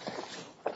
and by one more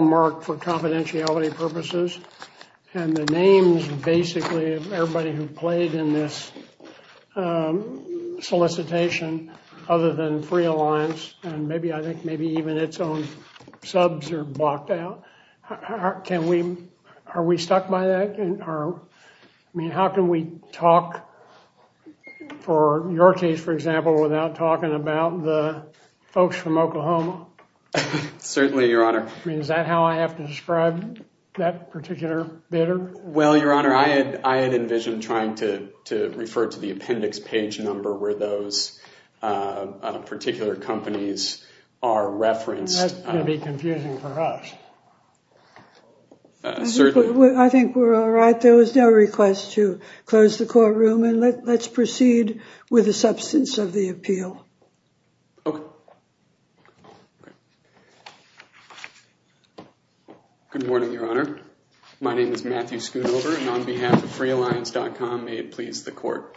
marked for confidentiality purposes and the names basically of everybody who played in this solicitation other than free alliance and maybe I think maybe even its own subs are blocked out. Can we, are we stuck by that? I mean how can we talk for your case for example without talking about the folks from Oklahoma? Certainly your honor. I mean is that how I have to describe that particular bidder? Well your honor I had I had envisioned trying to to refer to the appendix page number where those particular companies are referenced. That's going to be confusing for us. I think we're all right there was no request to close the courtroom and let's proceed with the substance of the appeal. Okay. Good morning your honor. My name is Matthew Schoonover and on behalf of freealliance.com may it please the court.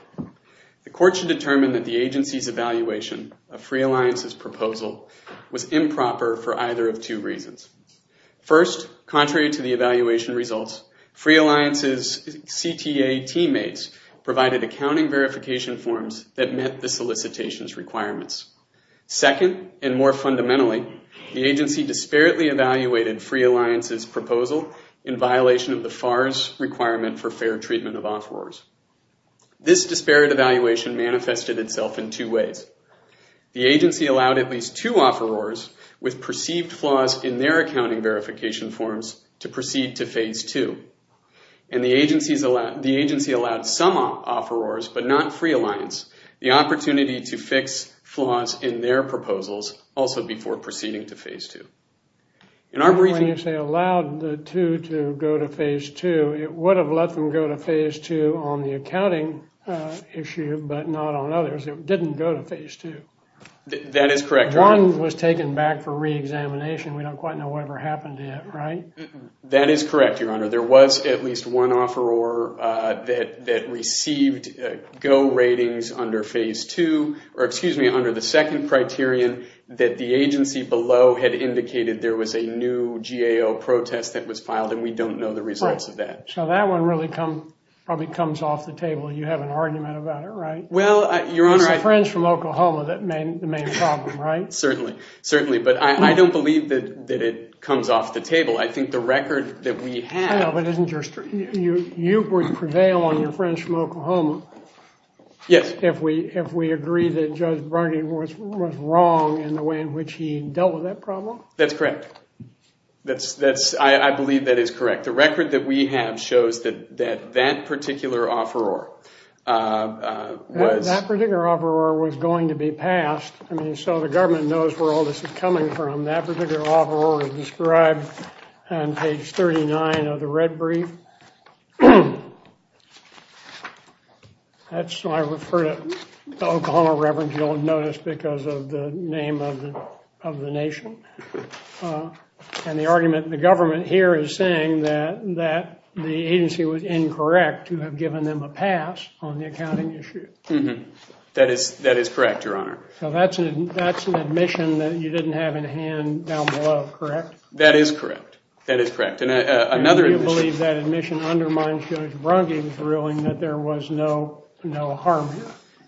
The court should determine that the agency's evaluation of free alliance's proposal was improper for either of two reasons. First contrary to the met the solicitation's requirements. Second and more fundamentally the agency disparately evaluated free alliance's proposal in violation of the FARS requirement for fair treatment of offerors. This disparate evaluation manifested itself in two ways. The agency allowed at least two offerors with perceived flaws in their accounting verification forms to proceed to phase two. When you say allowed the two to go to phase two it would have let them go to phase two on the accounting issue but not on others. It didn't go to phase two. That is correct. One was taken back for re-examination. We don't quite know whatever right? That is correct your honor. There was at least one offeror that that received go ratings under phase two or excuse me under the second criterion that the agency below had indicated there was a new GAO protest that was filed and we don't know the results of that. So that one really come probably comes off the table. You have an argument about it right? Well your honor. Friends from Oklahoma that made the main problem right? Certainly certainly but I don't believe that it comes off the table. I think the record that we have. You would prevail on your friends from Oklahoma. Yes. If we if we agree that Judge Barnett was wrong in the way in which he dealt with that problem. That's correct. That's that's I believe that is correct. The record that we have shows that that particular offeror. That particular offeror was going to be passed. I mean the government knows where all this is coming from. That particular offer was described on page 39 of the red brief. That's why I refer to the Oklahoma reverend you'll notice because of the name of the of the nation. And the argument the government here is saying that that the agency was incorrect to have given them a pass on the accounting issue. That is that is correct your honor. So that's an that's an admission that you didn't have in hand down below correct? That is correct. That is correct and another. You believe that admission undermines Judge Bronte's ruling that there was no no harm here?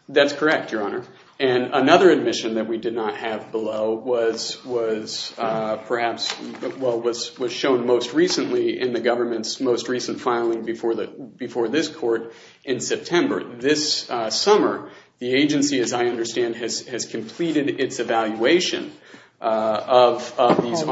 That's correct your honor. And another admission that we did not have below was was perhaps well was shown most recently in the government's most recent filing before the before this court in September. This summer the agency as I understand has has completed its evaluation of these.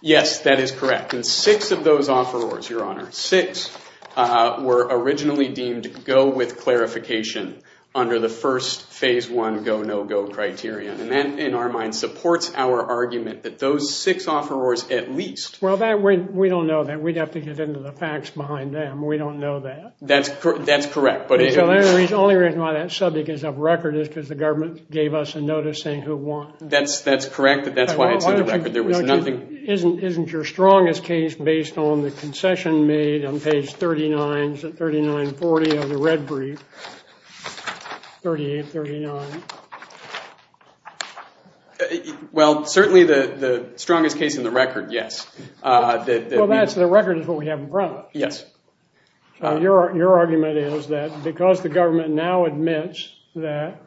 Yes that is correct and six of those offerors your honor. Six were originally deemed go with clarification under the first phase one go no go criterion. And that in our mind supports our argument that those six offerors at least. Well that we we don't know that we'd have to get into the facts behind them. We don't know that. That's that's correct. But the only reason why that subject is of record is because the government gave us a notice saying who won. That's that's correct. That's why it's on the record there was nothing. Isn't isn't your strongest case based on the concession made on page 39 39 40 of the red brief 38 39. Well certainly the the strongest case in the record yes. Well that's the record is what we have in front of us. Yes. Your argument is that because the government now admits that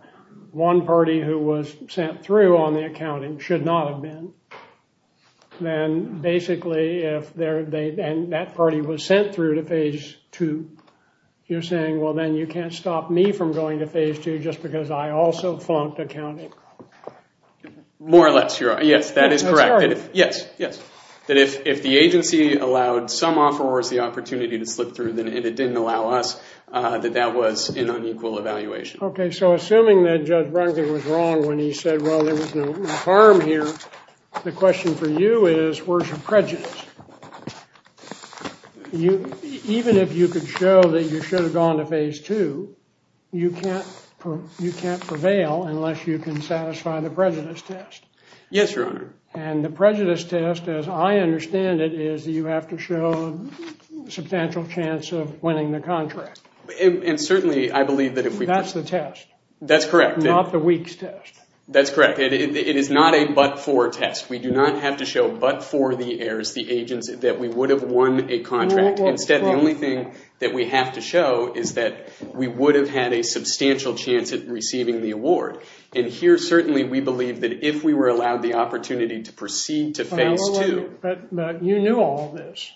one party who was sent through on the accounting should not have been. Then basically if they're they and that party was sent through to phase two you're saying well then you can't stop me from going to phase two just because I also flunked accounting. More or less your honor. Yes that is correct. Yes yes. That if if the agency allowed some offerors the opportunity to slip through then it didn't allow us that that was an unequal evaluation. Okay so assuming that Judge Brankley was wrong when he said well there was no harm here the question for you is where's your prejudice. You even if you could show that you should have gone to phase two you can't you can't prevail unless you can satisfy the prejudice test. Yes your honor. And the prejudice test as I understand it is you have to show a substantial chance of winning the contract. And certainly I believe that if we that's the test that's correct not the weeks test. That's correct. It is not a but-for test. We do not have to show but-for the heirs the agency that we would have won a contract. Instead the only thing that we have to show is that we would have had a substantial chance at receiving the award. And here certainly we believe that if we were allowed the opportunity to proceed to phase two. But you knew all this.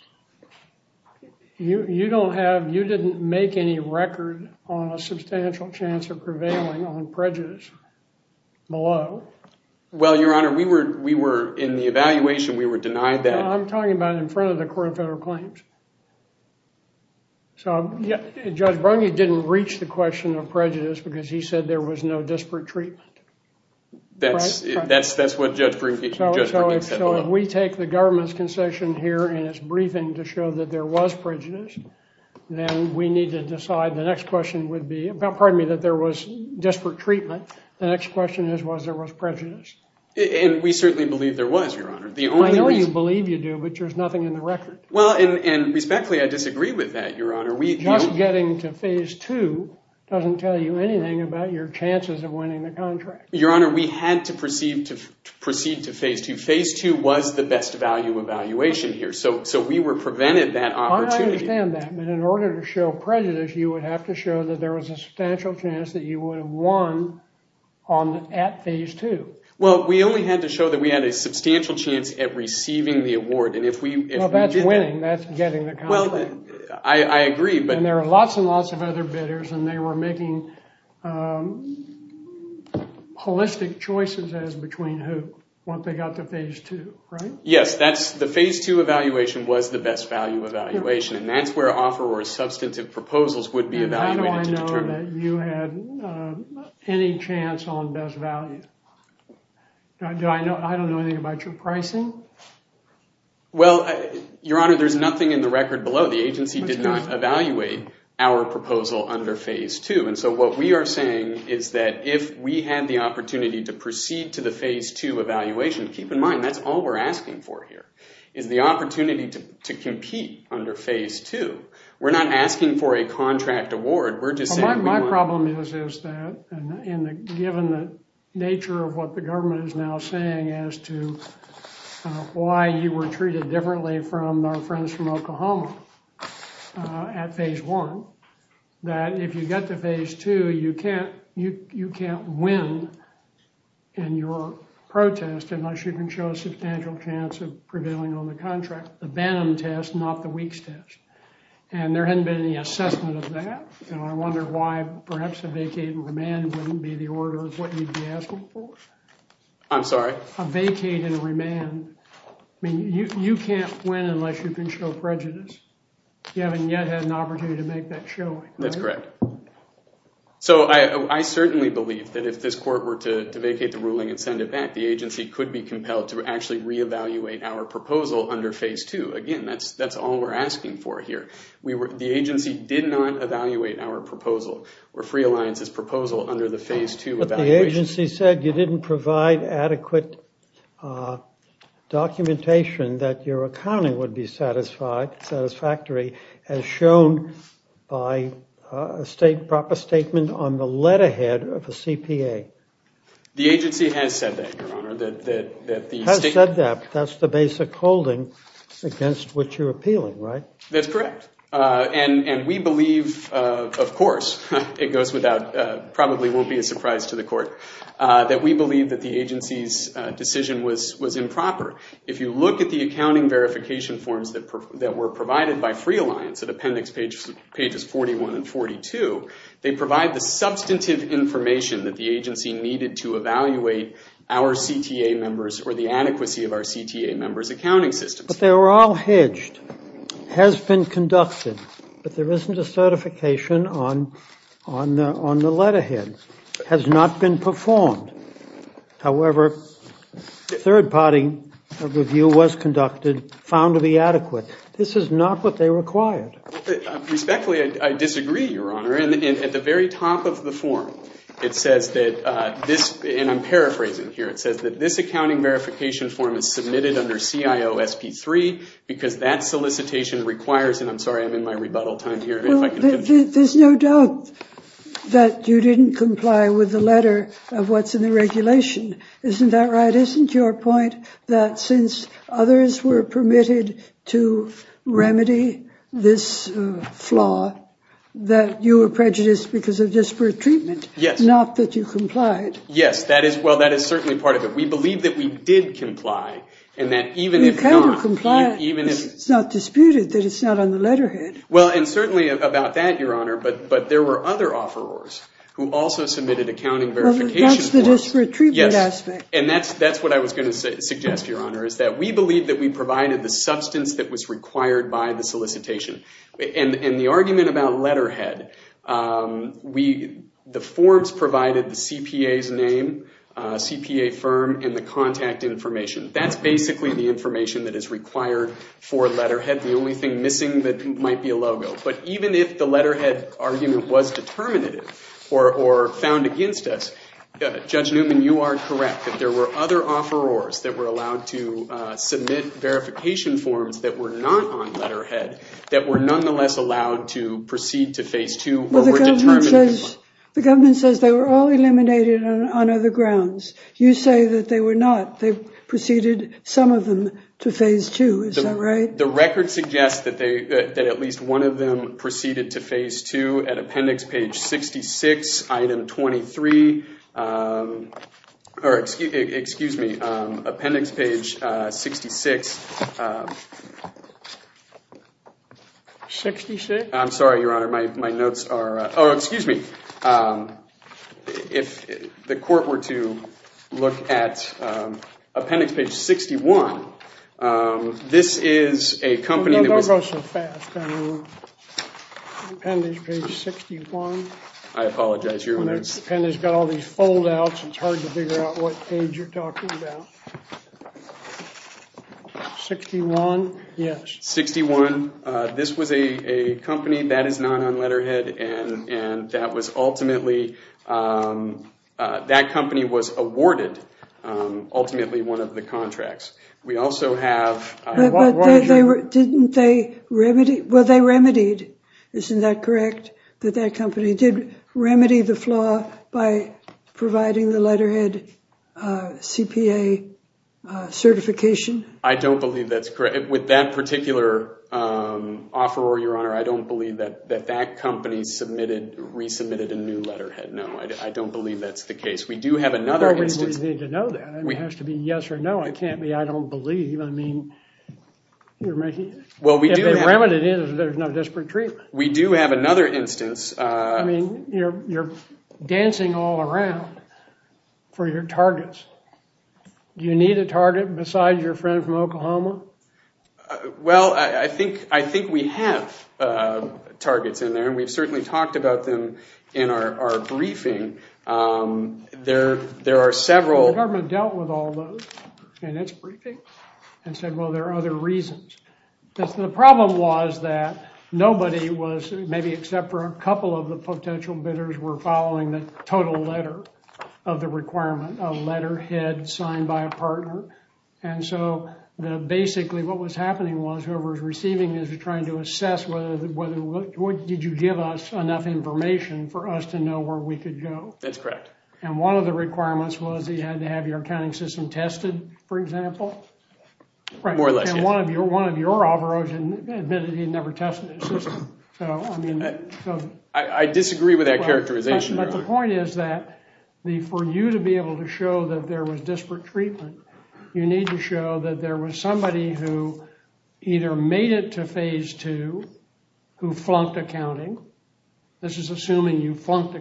You you don't have you didn't make any record on a substantial chance of prevailing on prejudice below. Well your honor we were we were in the evaluation we were denied that. I'm talking about in front of the court of federal claims. So yeah Judge Brankley didn't reach the question of prejudice because he said there was no disparate treatment. That's that's that's what Judge Brankley said. So if we take the government's concession here and it's briefing to show that there was prejudice. Then we need to decide the next question would be about pardon me that there was disparate treatment. The next question is was there was prejudice. And we certainly believe there was your honor. The only reason. I know you believe you do but there's nothing in the record. Well and respectfully I disagree with that your honor. Just getting to phase two doesn't tell you anything about your chances of winning the contract. Your honor we had to proceed to proceed to phase two. Phase two was the best value evaluation here. So so we were prevented that opportunity. I understand that. But in order to show prejudice you would have to show that there was a substantial chance that you would have won on at phase two. Well we only had to show that we had a substantial chance at receiving the award. And if we if that's winning that's getting the contract. I agree. But there are lots and lots of other bidders and they were making um holistic choices as between who once they got to phase two right? Yes that's the phase two evaluation was the best value evaluation. And that's where offer or substantive proposals would be evaluated. How do I know that you had any chance on best value? Do I know I don't know anything about your pricing? Well your honor there's nothing in the record below. The agency did not evaluate our proposal under phase two. And so what we are saying is that if we had the opportunity to proceed to the phase two evaluation. Keep in mind that's all we're asking for here. Is the opportunity to to compete under phase two. We're not asking for a contract award. We're just saying my problem is is that and given the nature of what the government is now saying as to why you were treated differently from our friends from Oklahoma at phase one. That if you get to phase two you can't you you can't win in your protest unless you can show a substantial chance of prevailing on the contract. The Banham test not the Weeks test. And there hasn't been any assessment of that. And I wonder why perhaps a vacate and remand wouldn't be the order of what you'd be asking for. I'm sorry? A vacate and remand. I mean you you can't win unless you can show prejudice. You haven't yet had an opportunity to make that showing. That's correct. So I certainly believe that if this court were to vacate the ruling and send it back the agency could be compelled to actually re-evaluate our proposal under phase two. Again that's that's all we're asking for here. We were the agency did not evaluate our proposal or free alliance's the phase two. But the agency said you didn't provide adequate documentation that your accounting would be satisfied satisfactory as shown by a state proper statement on the letterhead of a CPA. The agency has said that your honor. That that has said that that's the basic holding against what you're appealing right? That's correct. And and we believe of course it goes without probably won't be a surprise to the court that we believe that the agency's decision was was improper. If you look at the accounting verification forms that that were provided by free alliance at appendix pages pages 41 and 42 they provide the substantive information that the agency needed to evaluate our CTA members or the adequacy of our CTA members accounting systems. But they were all has not been performed. However third party review was conducted found to be adequate. This is not what they required. Respectfully I disagree your honor and at the very top of the form it says that this and I'm paraphrasing here it says that this accounting verification form is submitted under CIO SP3 because that solicitation requires and I'm sorry I'm in my rebuttal time there's no doubt that you didn't comply with the letter of what's in the regulation isn't that right isn't your point that since others were permitted to remedy this flaw that you were prejudiced because of disparate treatment yes not that you complied yes that is well that is certainly part of it we believe that we did comply and that even if you can't comply even if it's not about that your honor but but there were other offerers who also submitted accounting verification and that's that's what I was going to suggest your honor is that we believe that we provided the substance that was required by the solicitation and and the argument about letterhead we the forms provided the CPA's name CPA firm and the contact information that's basically the information that is required for letterhead the only thing missing that might be a logo but even if the letterhead argument was determinative or or found against us judge Newman you are correct that there were other offerers that were allowed to submit verification forms that were not on letterhead that were nonetheless allowed to proceed to phase two the government says they were all eliminated on other grounds you say that they were not they proceeded some of them to phase two is that right the record suggests that they that at least one of them proceeded to phase two at appendix page 66 item 23 or excuse me appendix page 66 66 i'm sorry your honor my my notes are oh excuse me um if the court were to look at appendix page 61 um this is a company that goes so fast appendix page 61 i apologize your appendix got all these fold outs it's hard to figure out what page you're talking about 61 yes 61 uh this was a a company that is not on letterhead and and that was ultimately um that company was awarded um ultimately one of the contracts we also have didn't they remedy well they remedied isn't that correct that that company did remedy the flaw by providing the letterhead uh cpa uh certification i don't believe that's correct with that particular um offer or your honor i don't believe that that that company submitted resubmitted a new letterhead no i don't believe that's the case we do have another instance we need to know that it has to be yes or no it can't be i don't believe i mean you're making well we do remedy it there's no we do have another instance uh i mean you're you're dancing all around for your targets do you need a target besides your friend from oklahoma well i i think i think we have uh targets in there and we've certainly talked about them in our our briefing um there there are several government dealt with all those and it's briefing and said well there are other reasons because the problem was that nobody was maybe except for a couple of the potential bidders were following the total letter of the requirement a letterhead signed by a partner and so the basically what was happening was whoever was receiving is trying to assess whether whether what did you give us enough information for us to know where we could go that's correct and one of the requirements was he had to have your accounting system tested for example more or less than one of your one of your operos and admitted he never tested his system so i mean i i disagree with that characterization but the point is that the for you to be able to show that there was disparate treatment you need to show that there was somebody who either made it to phase two who flunked accounting this is assuming you flunked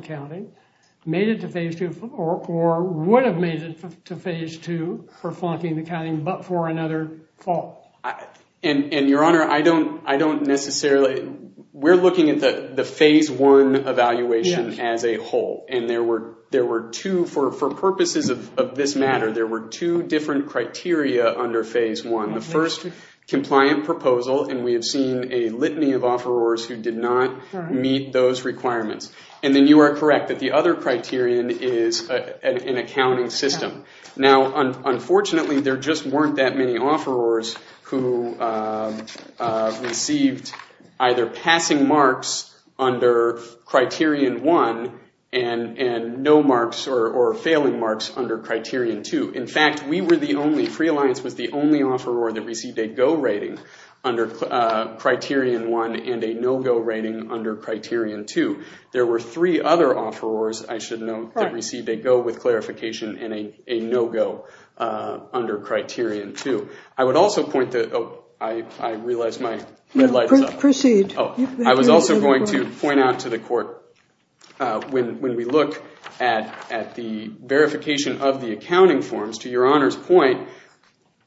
made it to phase two or or would have made it to phase two for flunking the counting but for another fall and and your honor i don't i don't necessarily we're looking at the the phase one evaluation as a whole and there were there were two for for purposes of this matter there were two different criteria under phase one the first compliant proposal and we have seen a litany of the other criterion is an accounting system now unfortunately there just weren't that many offerors who received either passing marks under criterion one and and no marks or or failing marks under criterion two in fact we were the only free alliance was the only offeror that received a go under criterion one and a no-go rating under criterion two there were three other offerors i should know that received a go with clarification and a a no-go uh under criterion two i would also point that oh i i realized my red light proceed oh i was also going to point out to the court when when we look at at the verification of the accounting forms to your honor's point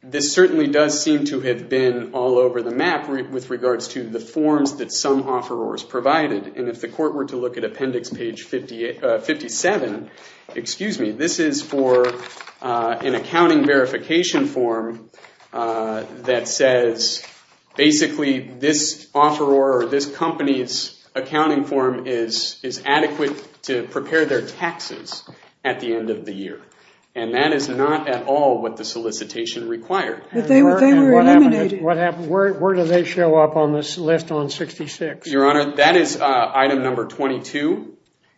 this certainly does seem to have been all over the map with regards to the forms that some offerors provided and if the court were to look at appendix page 58 57 excuse me this is for an accounting verification form that says basically this offer or this company's accounting form is is adequate to prepare their taxes at the end of the year and that is not at all what the solicitation required but they were they were eliminated what happened where where do they show up on this list on 66 your honor that is uh item number 22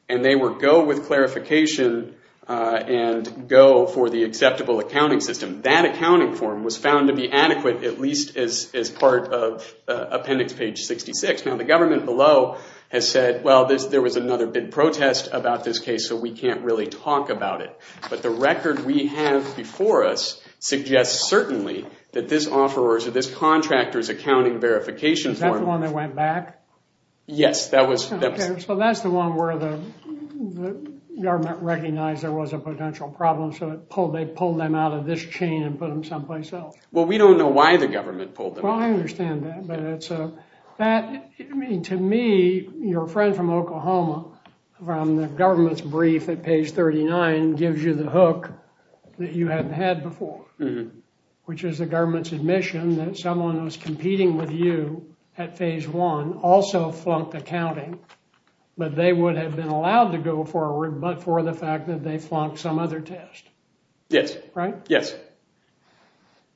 and they were go with clarification uh and go for the acceptable accounting system that accounting form was found to be adequate at least as as part of appendix page 66 now the government below has said well this there was another bid protest about this case so we can't really talk about it but the record we have before us suggests certainly that this offerors or this contractor's accounting verification is that the one that went back yes that was okay so that's the one where the government recognized there was a potential problem so it pulled they pulled them out of this chain and put them someplace else well we don't know why the government pulled them well i understand that but it's a that i mean to me your friend from oklahoma from the government's page 39 gives you the hook that you haven't had before which is the government's admission that someone was competing with you at phase one also flunked accounting but they would have been allowed to go forward but for the fact that they flunked some other test yes right yes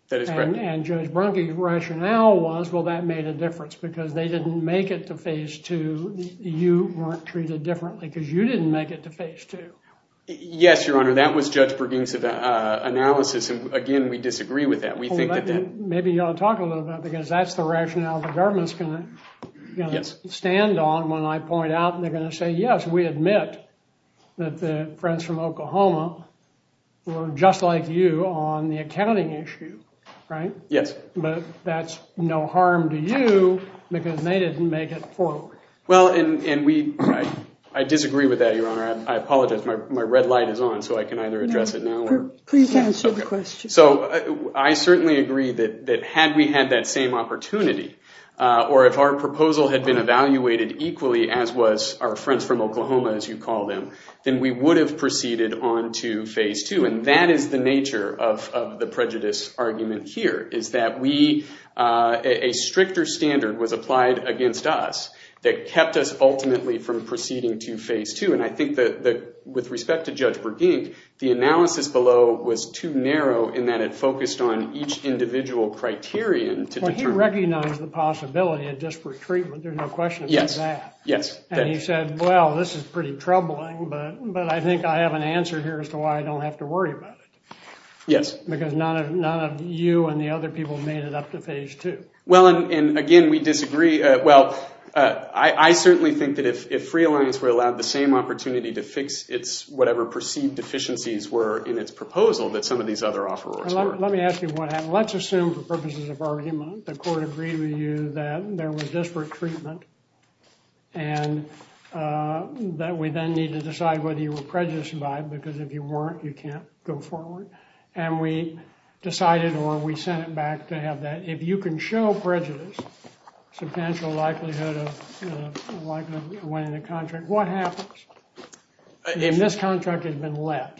that is correct and judge bronchi rationale was well that made a difference because they didn't make it to phase two you weren't treated differently because you didn't make it to phase two yes your honor that was judge perkins's uh analysis and again we disagree with that we think that maybe you ought to talk a little bit because that's the rationale the government's gonna yes stand on when i point out and they're gonna say yes we admit that the friends from oklahoma were just like you on the accounting issue right yes but that's no harm to you because they didn't make forward well and and we i disagree with that your honor i apologize my red light is on so i can either address it now please answer the question so i certainly agree that that had we had that same opportunity uh or if our proposal had been evaluated equally as was our friends from oklahoma as you call them then we would have proceeded on to phase two and that is the nature of of the that kept us ultimately from proceeding to phase two and i think that the with respect to judge bergenk the analysis below was too narrow in that it focused on each individual criterion to recognize the possibility of disparate treatment there's no question about that yes and he said well this is pretty troubling but but i think i have an answer here as to why i don't have to worry about it yes because none of none of you and the other people made it up to phase two well and again we disagree well i i certainly think that if free alliance were allowed the same opportunity to fix its whatever perceived deficiencies were in its proposal that some of these other offerors let me ask you what happened let's assume for purposes of argument the court agreed with you that there was disparate treatment and uh that we then need to decide whether you were prejudiced by because if you weren't you can't go forward and we decided or we sent it to have that if you can show prejudice substantial likelihood of likely winning the contract what happens if this contract has been left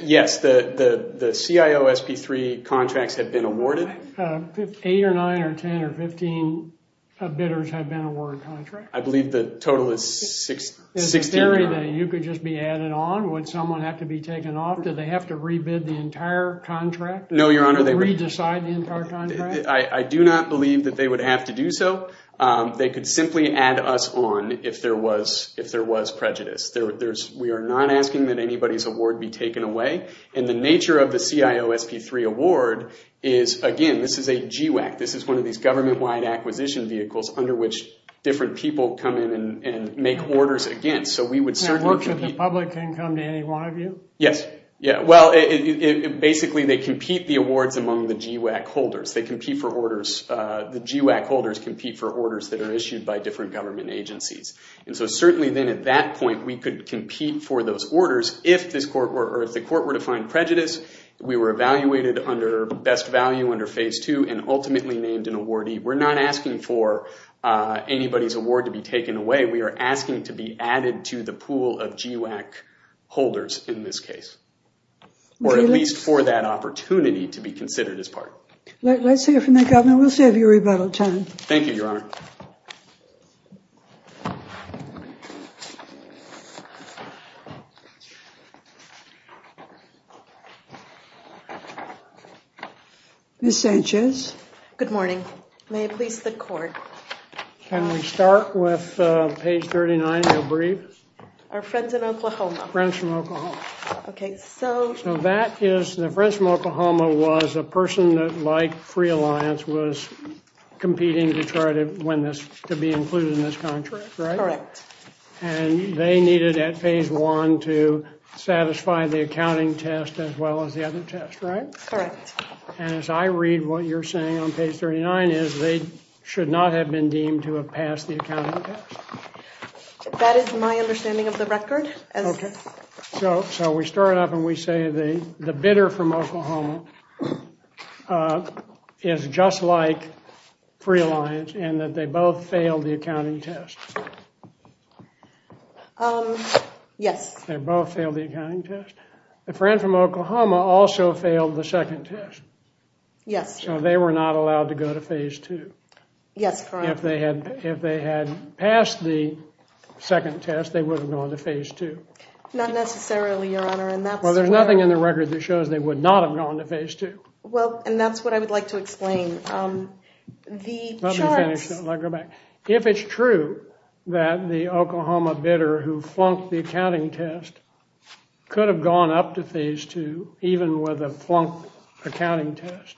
yes the the the cio sp3 contracts have been awarded eight or nine or ten or fifteen bidders have been awarded contracts i believe the total is 60 area that you could just be added on would someone have to be taken off do they have to i i do not believe that they would have to do so um they could simply add us on if there was if there was prejudice there there's we are not asking that anybody's award be taken away and the nature of the cio sp3 award is again this is a g-wag this is one of these government-wide acquisition vehicles under which different people come in and and make orders against so we would certainly work with the public can come to any one of you yes yeah well it basically they compete the awards among the g-wag holders they compete for orders uh the g-wag holders compete for orders that are issued by different government agencies and so certainly then at that point we could compete for those orders if this court were if the court were to find prejudice we were evaluated under best value under phase two and ultimately named an awardee we're not asking for uh anybody's award to be taken away we are asking to be added to the pool of g-wag holders in this case or at for that opportunity to be considered as part let's hear from the governor we'll save you rebuttal time thank you your honor miss sanchez good morning may it please the court can we start with uh page 39 you'll breathe our friends in oklahoma friends from oklahoma okay so so that is the friends from oklahoma was a person that like free alliance was competing to try to win this to be included in this contract right correct and they needed at phase one to satisfy the accounting test as well as the other test right correct and as i read what you're saying on page 39 is they should not have been deemed to pass the accounting test that is my understanding of the record okay so so we start off and we say the the bidder from oklahoma uh is just like free alliance and that they both failed the accounting test um yes they both failed the accounting test the friend from oklahoma also failed the second test yes so they were not allowed to go to phase two yes if they had if they had passed the second test they wouldn't go into phase two not necessarily your honor and that's well there's nothing in the record that shows they would not have gone to phase two well and that's what i would like to explain um the charts if it's true that the oklahoma bidder who flunked the accounting test could have gone up to phase two even with a flunk accounting test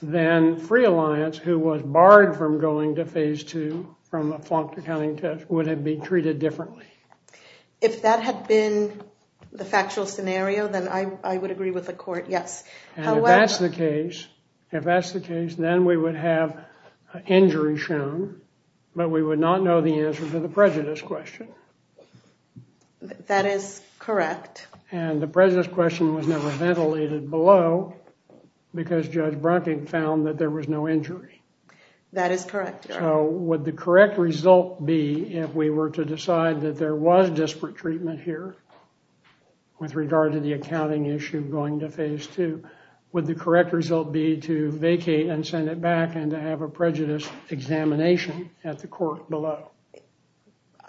then free alliance who was barred from going to phase two from a flunked accounting test would have been treated differently if that had been the factual scenario then i i would agree with the court yes and if that's the case if that's the case then we would have injury shown but we would not know the answer to the prejudice question that is correct and the prejudice question was never ventilated below because judge bronkin found that there was no injury that is correct so would the correct result be if we were to decide that there was disparate treatment here with regard to the accounting issue going to phase two would the correct result be to vacate and send it back and to have a prejudice examination at the court below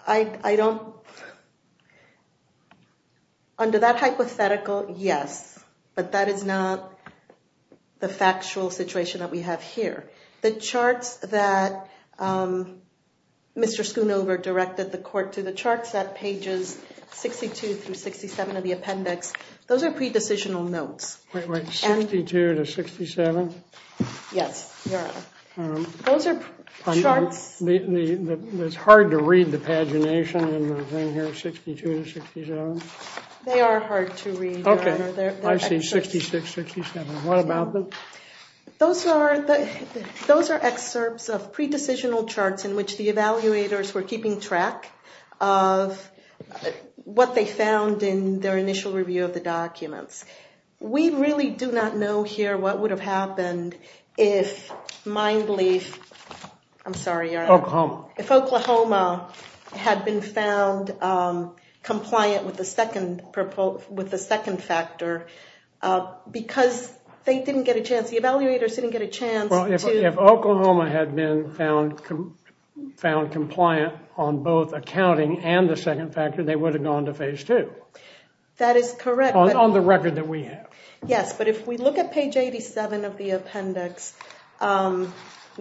i i don't under that hypothetical yes but that is not the factual situation that we have here the charts that um mr schoonover directed the court to the charts at pages 62 through 67 of the appendix those are pre-decisional notes wait wait 62 to 67 yes your honor those are charts it's hard to read the pagination and the thing here 62 to 67 they are hard to read okay i've seen 66 67 what about them those are the those are excerpts of pre-decisional charts in which the evaluators were keeping track of what they found in their initial review of the documents we really do not know here what would have happened if mind belief i'm sorry if oklahoma had been found um compliant with the second purple with the second factor because they didn't get a chance the evaluators didn't get a chance well if oklahoma had been found found compliant on both accounting and the second factor they would have gone to phase two that is correct on the record that we have yes but if we look at page 87 of the appendix um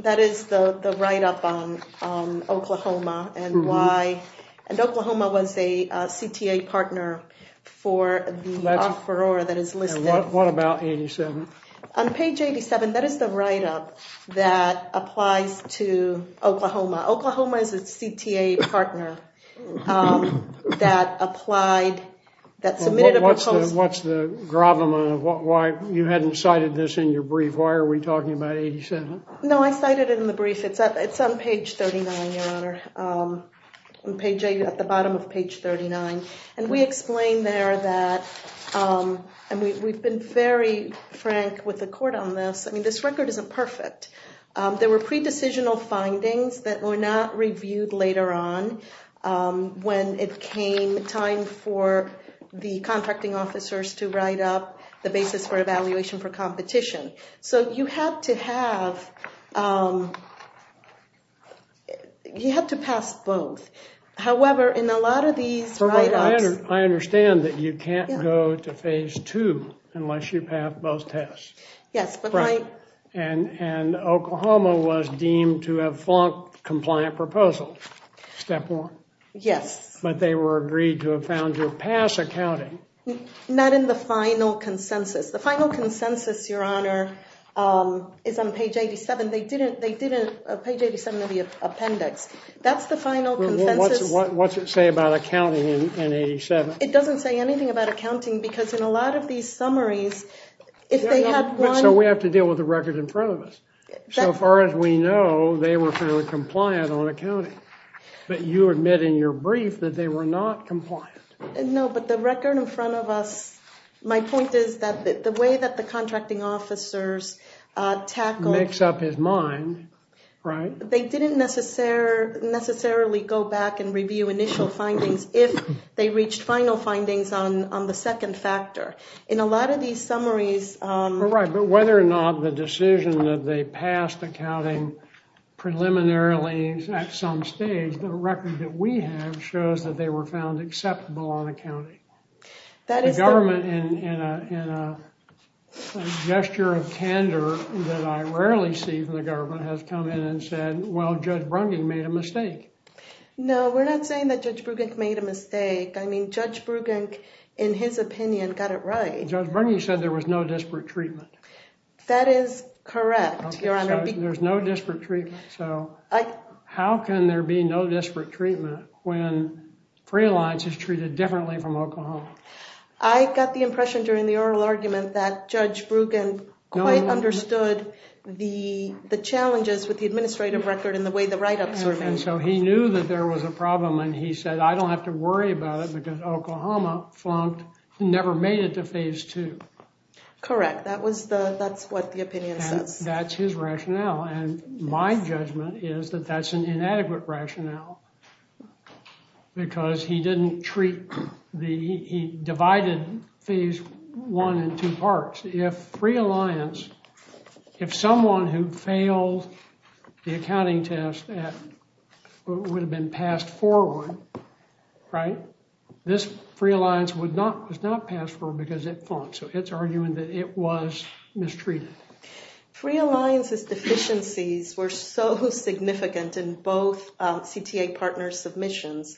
that is the the write-up on um oklahoma and why and oklahoma was a cta partner for the oklahoma oklahoma is a cta partner um that applied that submitted what's the what's the problem of why you hadn't cited this in your brief why are we talking about 87 no i cited it in the brief it's at it's on page 39 your honor um on page at the bottom of page 39 and we explained there that um and we we've been very frank with the court on this i mean this record isn't perfect um there were pre-decisional findings that were not reviewed later on um when it came time for the contracting officers to write up the basis for evaluation for competition so you had to have um you had to pass both however in a lot of these i understand that you can't go to phase two unless you pass both tests yes but right and and oklahoma was deemed to have flunked compliant proposal step one yes but they were agreed to have found your pass accounting not in the final consensus the final consensus your honor um is on page 87 they didn't they didn't page 87 of the appendix that's the final consensus what's it say about accounting in 87 it doesn't say anything about accounting because in a lot of these summaries if they have one so we have to deal with the record in front of us so far as we know they were fairly compliant on accounting but you admit in your brief that they were not compliant no but the record in front of us my point is that the way that the contracting officers tackle mix up his mind right they didn't necessarily go back and review initial findings if they reached final findings on on the second factor in a lot of these summaries um right but whether or not the decision that they passed accounting preliminarily at some stage the record that we have shows that they were found acceptable on accounting that is the government in in a in a gesture of candor that i rarely see from the government has come in and said well judge brungan made a mistake no we're not saying that judge bruggen made a mistake i mean judge bruggen in his opinion got it right judge brungan said there was no disparate treatment that is correct your honor there's no disparate treatment so i how can there be no disparate treatment when free alliance is treated differently from oklahoma i got the impression during the oral argument that judge bruggen quite understood the the challenges with the administrative record in the way the write-up survey and so he knew that there was a problem and he said i don't have to worry about it because oklahoma flunked never made it to phase two correct that was the that's what the opinion says that's his rationale and my judgment is that that's an inadequate rationale because he didn't treat the he divided phase one in two parts if free alliance if someone who failed the accounting test that would have been passed forward right this free alliance would not was not passed for because it fought so it's arguing that it was mistreated free alliances deficiencies were so significant in both cta partners submissions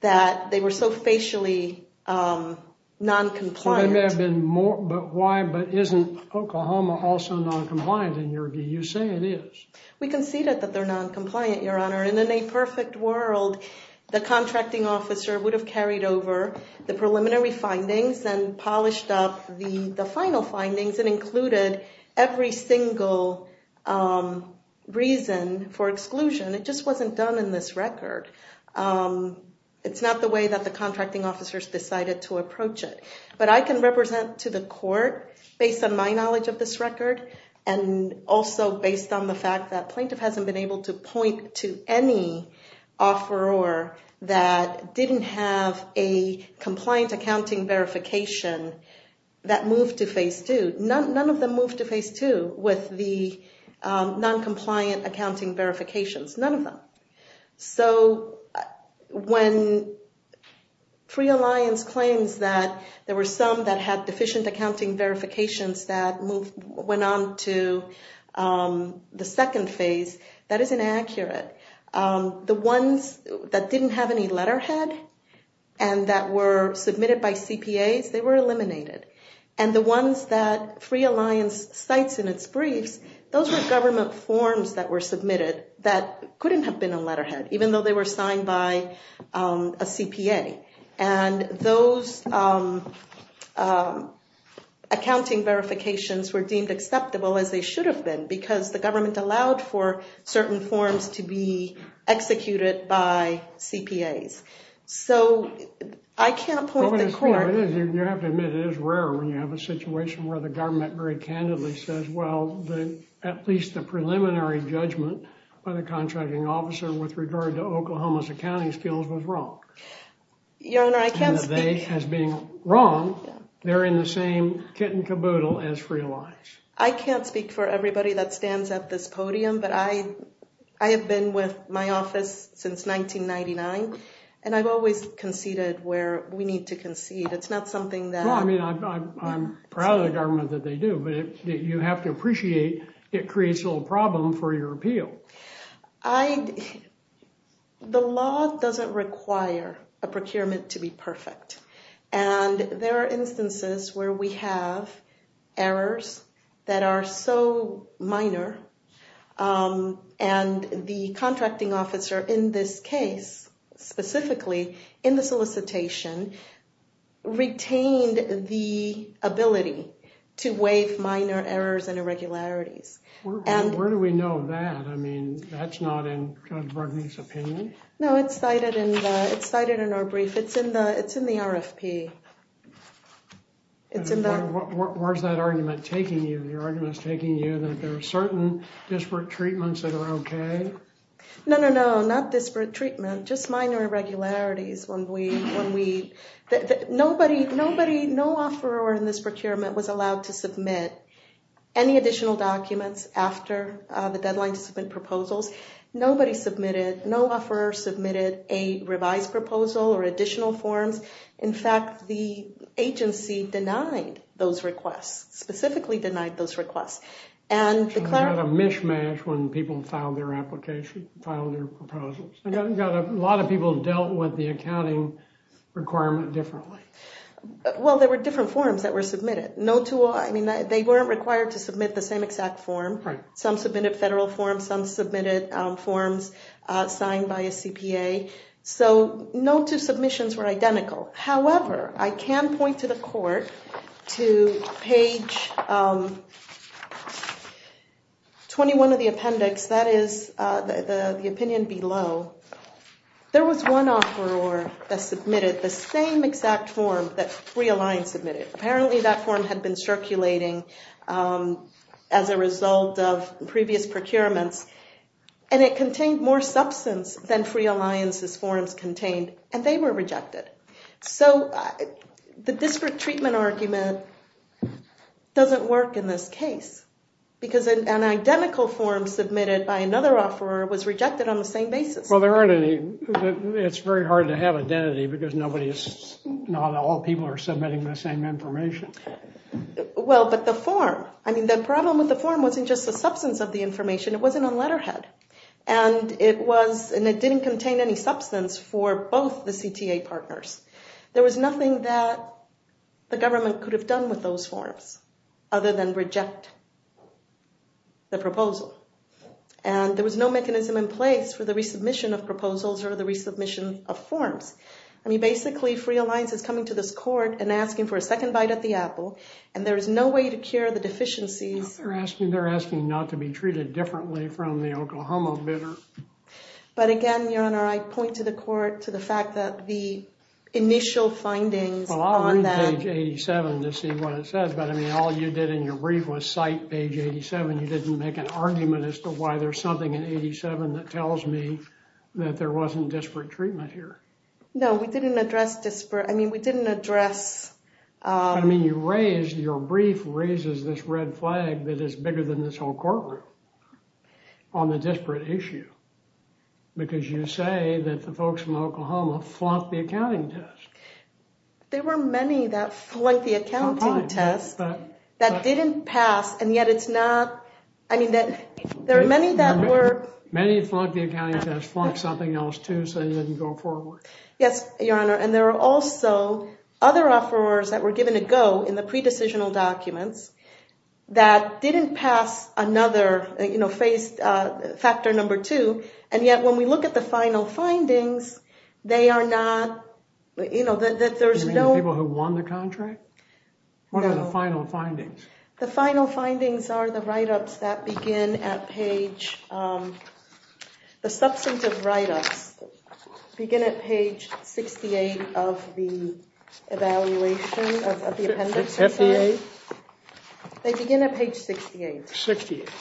that they were so facially non-compliant they may have been more but why but isn't oklahoma also non-compliant in your do you say it is we conceded that they're non-compliant your honor in a perfect world the contracting officer would have carried over the preliminary findings and polished up the the final findings and included every single um reason for exclusion it just wasn't done in this record um it's not the way that the contracting officers decided to approach it but i can represent to the court based on my knowledge of this record and also based on the fact that plaintiff hasn't been able to point to any offeror that didn't have a compliant accounting verification that moved to phase two none of them moved to phase two with the non-compliant accounting verifications none of them so when free alliance claims that there were some that had deficient accounting verifications that moved went on to um the second phase that is inaccurate um the ones that didn't have any sites in its briefs those were government forms that were submitted that couldn't have been a letterhead even though they were signed by um a cpa and those um um accounting verifications were deemed acceptable as they should have been because the government allowed for certain forms to be executed by cpas so i can't point the court you have to admit it is rare when the government very candidly says well the at least the preliminary judgment by the contracting officer with regard to oklahoma's accounting skills was wrong your honor i can't say as being wrong they're in the same kit and caboodle as free alliance i can't speak for everybody that stands at this podium but i i have been with my office since 1999 and i've always conceded where we need to concede it's not something that i mean i'm proud of the government that they do but you have to appreciate it creates a little problem for your appeal i the law doesn't require a procurement to be perfect and there are instances where we have errors that are so minor um and the retained the ability to waive minor errors and irregularities and where do we know that i mean that's not in codberg's opinion no it's cited in the it's cited in our brief it's in the it's in the rfp it's in the where's that argument taking you your argument is taking you that there are certain disparate treatments that are okay no no not disparate treatment just minor irregularities when we when we nobody nobody no offer or in this procurement was allowed to submit any additional documents after the deadline to submit proposals nobody submitted no offer submitted a revised proposal or additional forms in fact the agency denied those requests specifically denied those requests and declared a mishmash when people filed their application filed their proposals i got a lot of people dealt with the accounting requirement differently well there were different forms that were submitted no two i mean they weren't required to submit the same exact form some submitted federal forms some submitted forms uh signed by a cpa so no two submissions were identical however i can point to the court to page um 21 of the appendix that is uh the the opinion below there was one offer or that submitted the same exact form that free alliance submitted apparently that form had been circulating as a result of previous procurements and it contained more substance than free alliance's forms contained and they were rejected so the district treatment argument doesn't work in this case because an identical form submitted by another offerer was rejected on the same basis well there aren't any it's very hard to have identity because nobody's not all people are submitting the same information well but the form i mean the problem with the form wasn't just the substance of the information it wasn't on letterhead and it was and it didn't contain any substance for both the cta partners there was nothing that the government could have with those forms other than reject the proposal and there was no mechanism in place for the resubmission of proposals or the resubmission of forms i mean basically free alliance is coming to this court and asking for a second bite at the apple and there is no way to cure the deficiencies they're asking they're asking not to be treated differently from the oklahoma bidder but again your honor i point to the court to the fact that the but i mean all you did in your brief was cite page 87 you didn't make an argument as to why there's something in 87 that tells me that there wasn't disparate treatment here no we didn't address disparate i mean we didn't address i mean you raised your brief raises this red flag that is bigger than this whole courtroom on the disparate issue because you say that the folks flunked the accounting test there were many that flunked the accounting test that didn't pass and yet it's not i mean that there are many that were many flunked the accounting test flunked something else too so they didn't go forward yes your honor and there are also other offerers that were given a go in the pre-decisional documents that didn't pass another you know phase uh factor number two and yet when we look at the final findings they are not you know that there's no people who won the contract what are the final findings the final findings are the write-ups that begin at page um the substantive write-ups begin at page 68 of the evaluation of the appendix fda they begin at page 68 68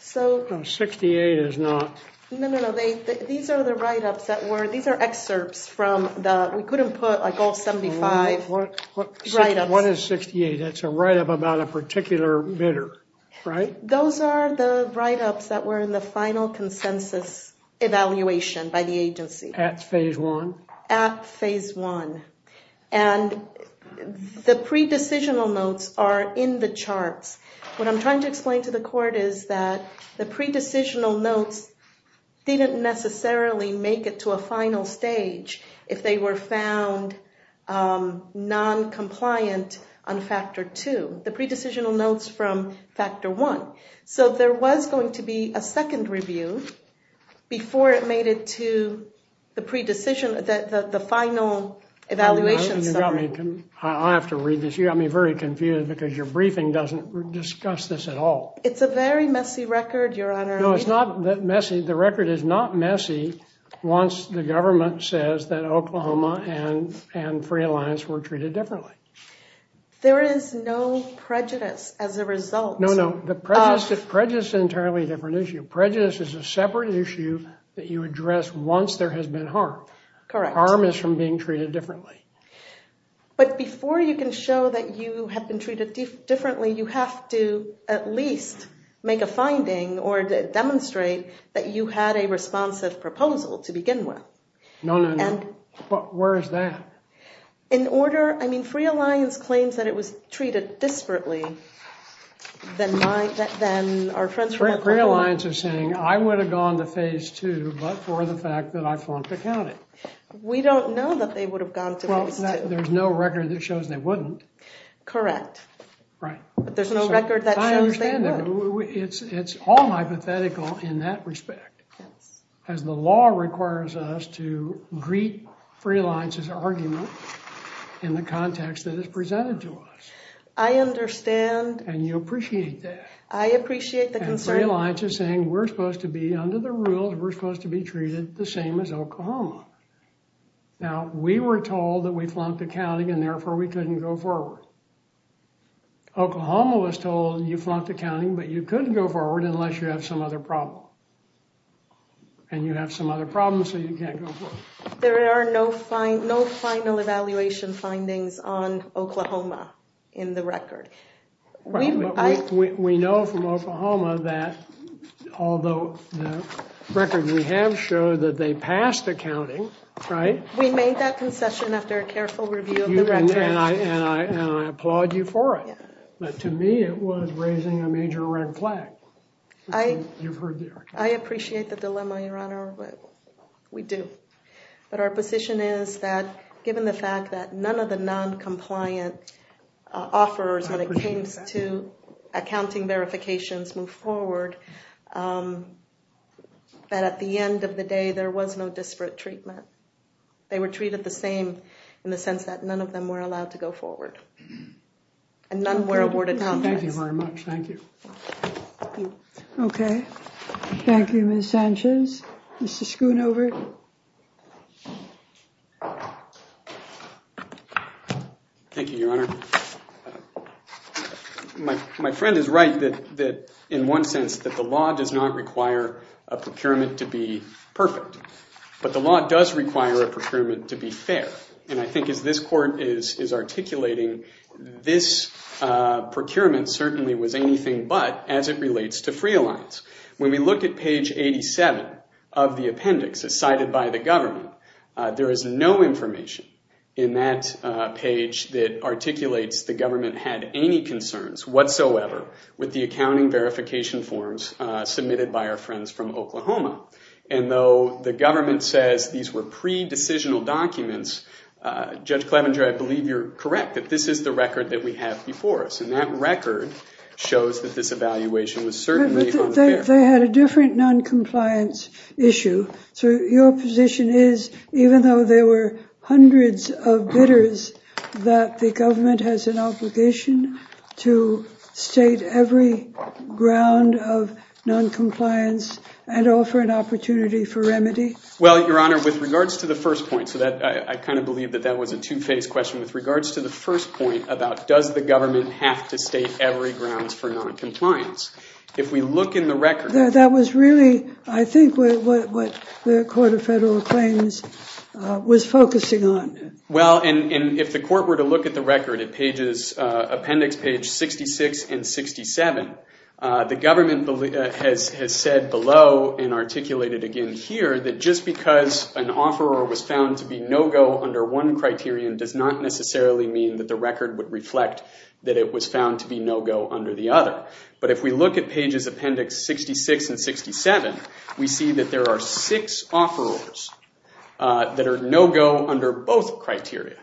so 68 is not no no no they these are the write-ups that were these are excerpts from the we couldn't put like all 75 right up what is 68 that's a write-up about a particular bidder right those are the write-ups that were in the final consensus evaluation by the agency at phase one at phase one and the pre-decisional notes are in the charts what i'm trying to explain to the court is that the pre-decisional notes didn't necessarily make it to a final stage if they were found um non-compliant on factor two the pre-decisional notes from factor one so there was going to be a second review before it made it to the pre-decision that the final evaluation sorry i have to read this you got me very confused because your briefing doesn't discuss this at all it's a very messy record your honor no it's not that messy the record is not messy once the government says that oklahoma and and free alliance were treated differently there is no prejudice as a result no no the prejudice is prejudice entirely different issue prejudice is a separate issue that you address once there has been harm correct harm is from being treated differently but before you can show that you have been treated differently you have to at least make a finding or demonstrate that you had a responsive proposal to begin with no no no but where is that in order i mean free alliance claims that it was treated disparately than my that then our friends free alliance are saying i would have gone to phase two but for the fact that i flunked accounting we don't know that they would have gone to well there's no record that shows they wouldn't correct right but there's no record that i understand it's it's all hypothetical in that respect yes as the law requires us to greet free alliance's argument in the context that is presented to us i understand and you appreciate that i appreciate the concern alliance is saying we're supposed to be under the rules we're supposed to be treated the same as oklahoma now we were told that we flunked accounting and therefore we couldn't go forward oklahoma was told you flunked accounting but you couldn't go forward unless you have some other problem and you have some other problems so you can't go forward there are no fine no final evaluation findings on oklahoma in the record we we know from oklahoma that although the record we have showed that they passed accounting right we made that concession after a careful review and i and i and i applaud you for it but to me it was raising a major red flag i you've heard there i appreciate the dilemma your honor but we do but our position is that given the fact that none of the non-compliant uh offers when it comes to accounting verifications move forward um but at the end of the day there was no disparate treatment they were treated the same in the sense that none of them were allowed to go forward and none were awarded thank you very much thank you okay thank you miss sanchez mr schoonover thank you your honor my my friend is right that that in one sense that the law does not require a procurement to be perfect but the law does require a procurement to be fair and i think as this court is is articulating this uh procurement certainly was anything but as it relates to free alliance when we look at page 87 of the appendix as cited by the government there is no information in that page that articulates the government had any concerns whatsoever with the accounting verification forms uh submitted by our friends from oklahoma and though the government says these were pre-decisional documents uh judge clevenger i believe you're correct that this is the record that we have before us and that record shows that this evaluation was certainly they had a different non-compliance issue so your position is even though there were hundreds of bidders that the ground of non-compliance and offer an opportunity for remedy well your honor with regards to the first point so that i kind of believe that that was a two-phase question with regards to the first point about does the government have to state every grounds for non-compliance if we look in the record that was really i think what what the court of federal claims uh was focusing on well and if the court were to look at the record at pages uh appendix page 66 and 67 uh the government has has said below and articulated again here that just because an offer was found to be no-go under one criterion does not necessarily mean that the record would reflect that it was found to be no-go under the other but if we look at pages appendix 66 and 67 we see that there are six offerors that are no-go under both criteria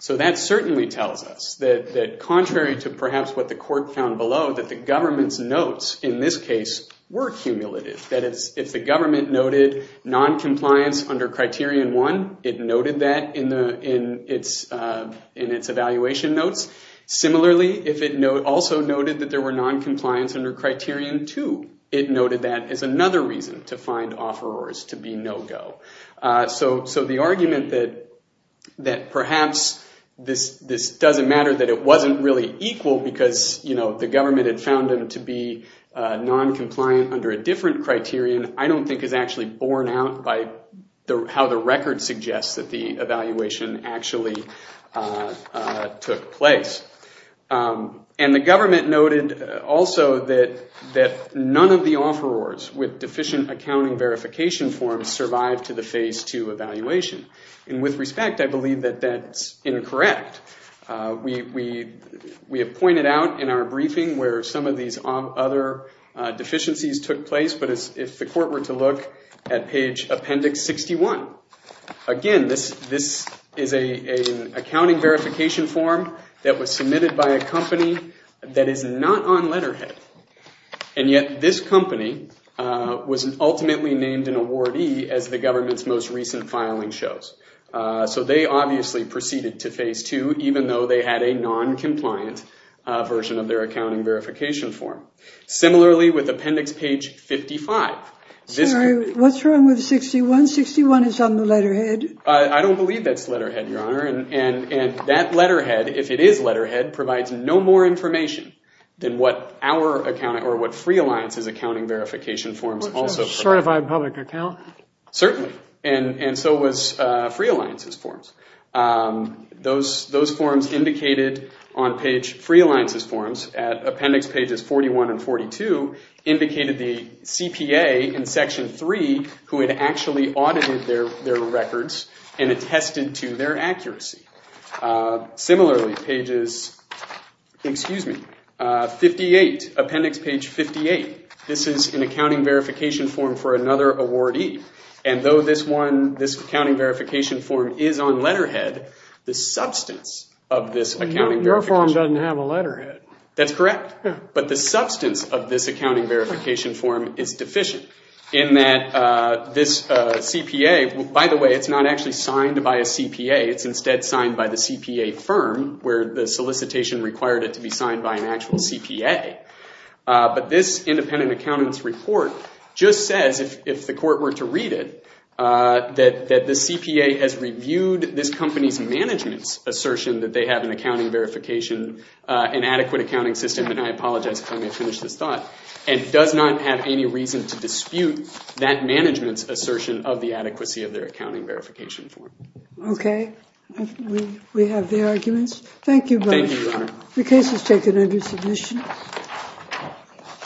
so that certainly tells us that that contrary to perhaps what the court found below that the government's notes in this case were cumulative that is if the government noted non-compliance under criterion one it noted that in the in its in its evaluation notes similarly if it no also noted that there were non-compliance under criterion two it noted that is another reason to find offerors to be no-go uh so so the argument that that perhaps this this doesn't matter that it wasn't really equal because you know the government had found them to be uh non-compliant under a different criterion i don't think is actually borne out by the how the record suggests that the evaluation actually uh took place um and the government noted also that that none of the offerors with deficient accounting verification forms survived to the phase two evaluation and with respect i believe that that's incorrect uh we we we have pointed out in our briefing where some of these other deficiencies took place but if the court were to look at page appendix 61 again this this is a an accounting verification form that was submitted by a company that is not on letterhead and yet this company uh was ultimately named an awardee as the government's most recent filing shows uh so they obviously proceeded to phase two even though they had a non-compliant version of their accounting verification form similarly with appendix page 55 sorry what's wrong with 61 61 is i don't believe that's letterhead your honor and and and that letterhead if it is letterhead provides no more information than what our account or what free alliance's accounting verification forms also certified public account certainly and and so was uh free alliances forms um those those forms indicated on page free alliances forms at appendix pages 41 and 42 indicated the cpa in section 3 who had actually audited their their records and attested to their accuracy uh similarly pages excuse me uh 58 appendix page 58 this is an accounting verification form for another awardee and though this one this accounting verification form is on letterhead the substance of this accounting reform doesn't have a letterhead that's correct but the substance of this accounting verification form is deficient in that uh this cpa by the way it's not actually signed by a cpa it's instead signed by the cpa firm where the solicitation required it to be signed by an actual cpa but this independent accountant's report just says if if the court were to read it uh that that the cpa has reviewed this company's management's assertion that they have an accounting verification uh an adequate accounting system and i apologize if i may finish this thought and does not have any reason to dispute that management's assertion of the adequacy of their accounting verification form okay we we have the arguments thank you thank you your honor the case is taken under submission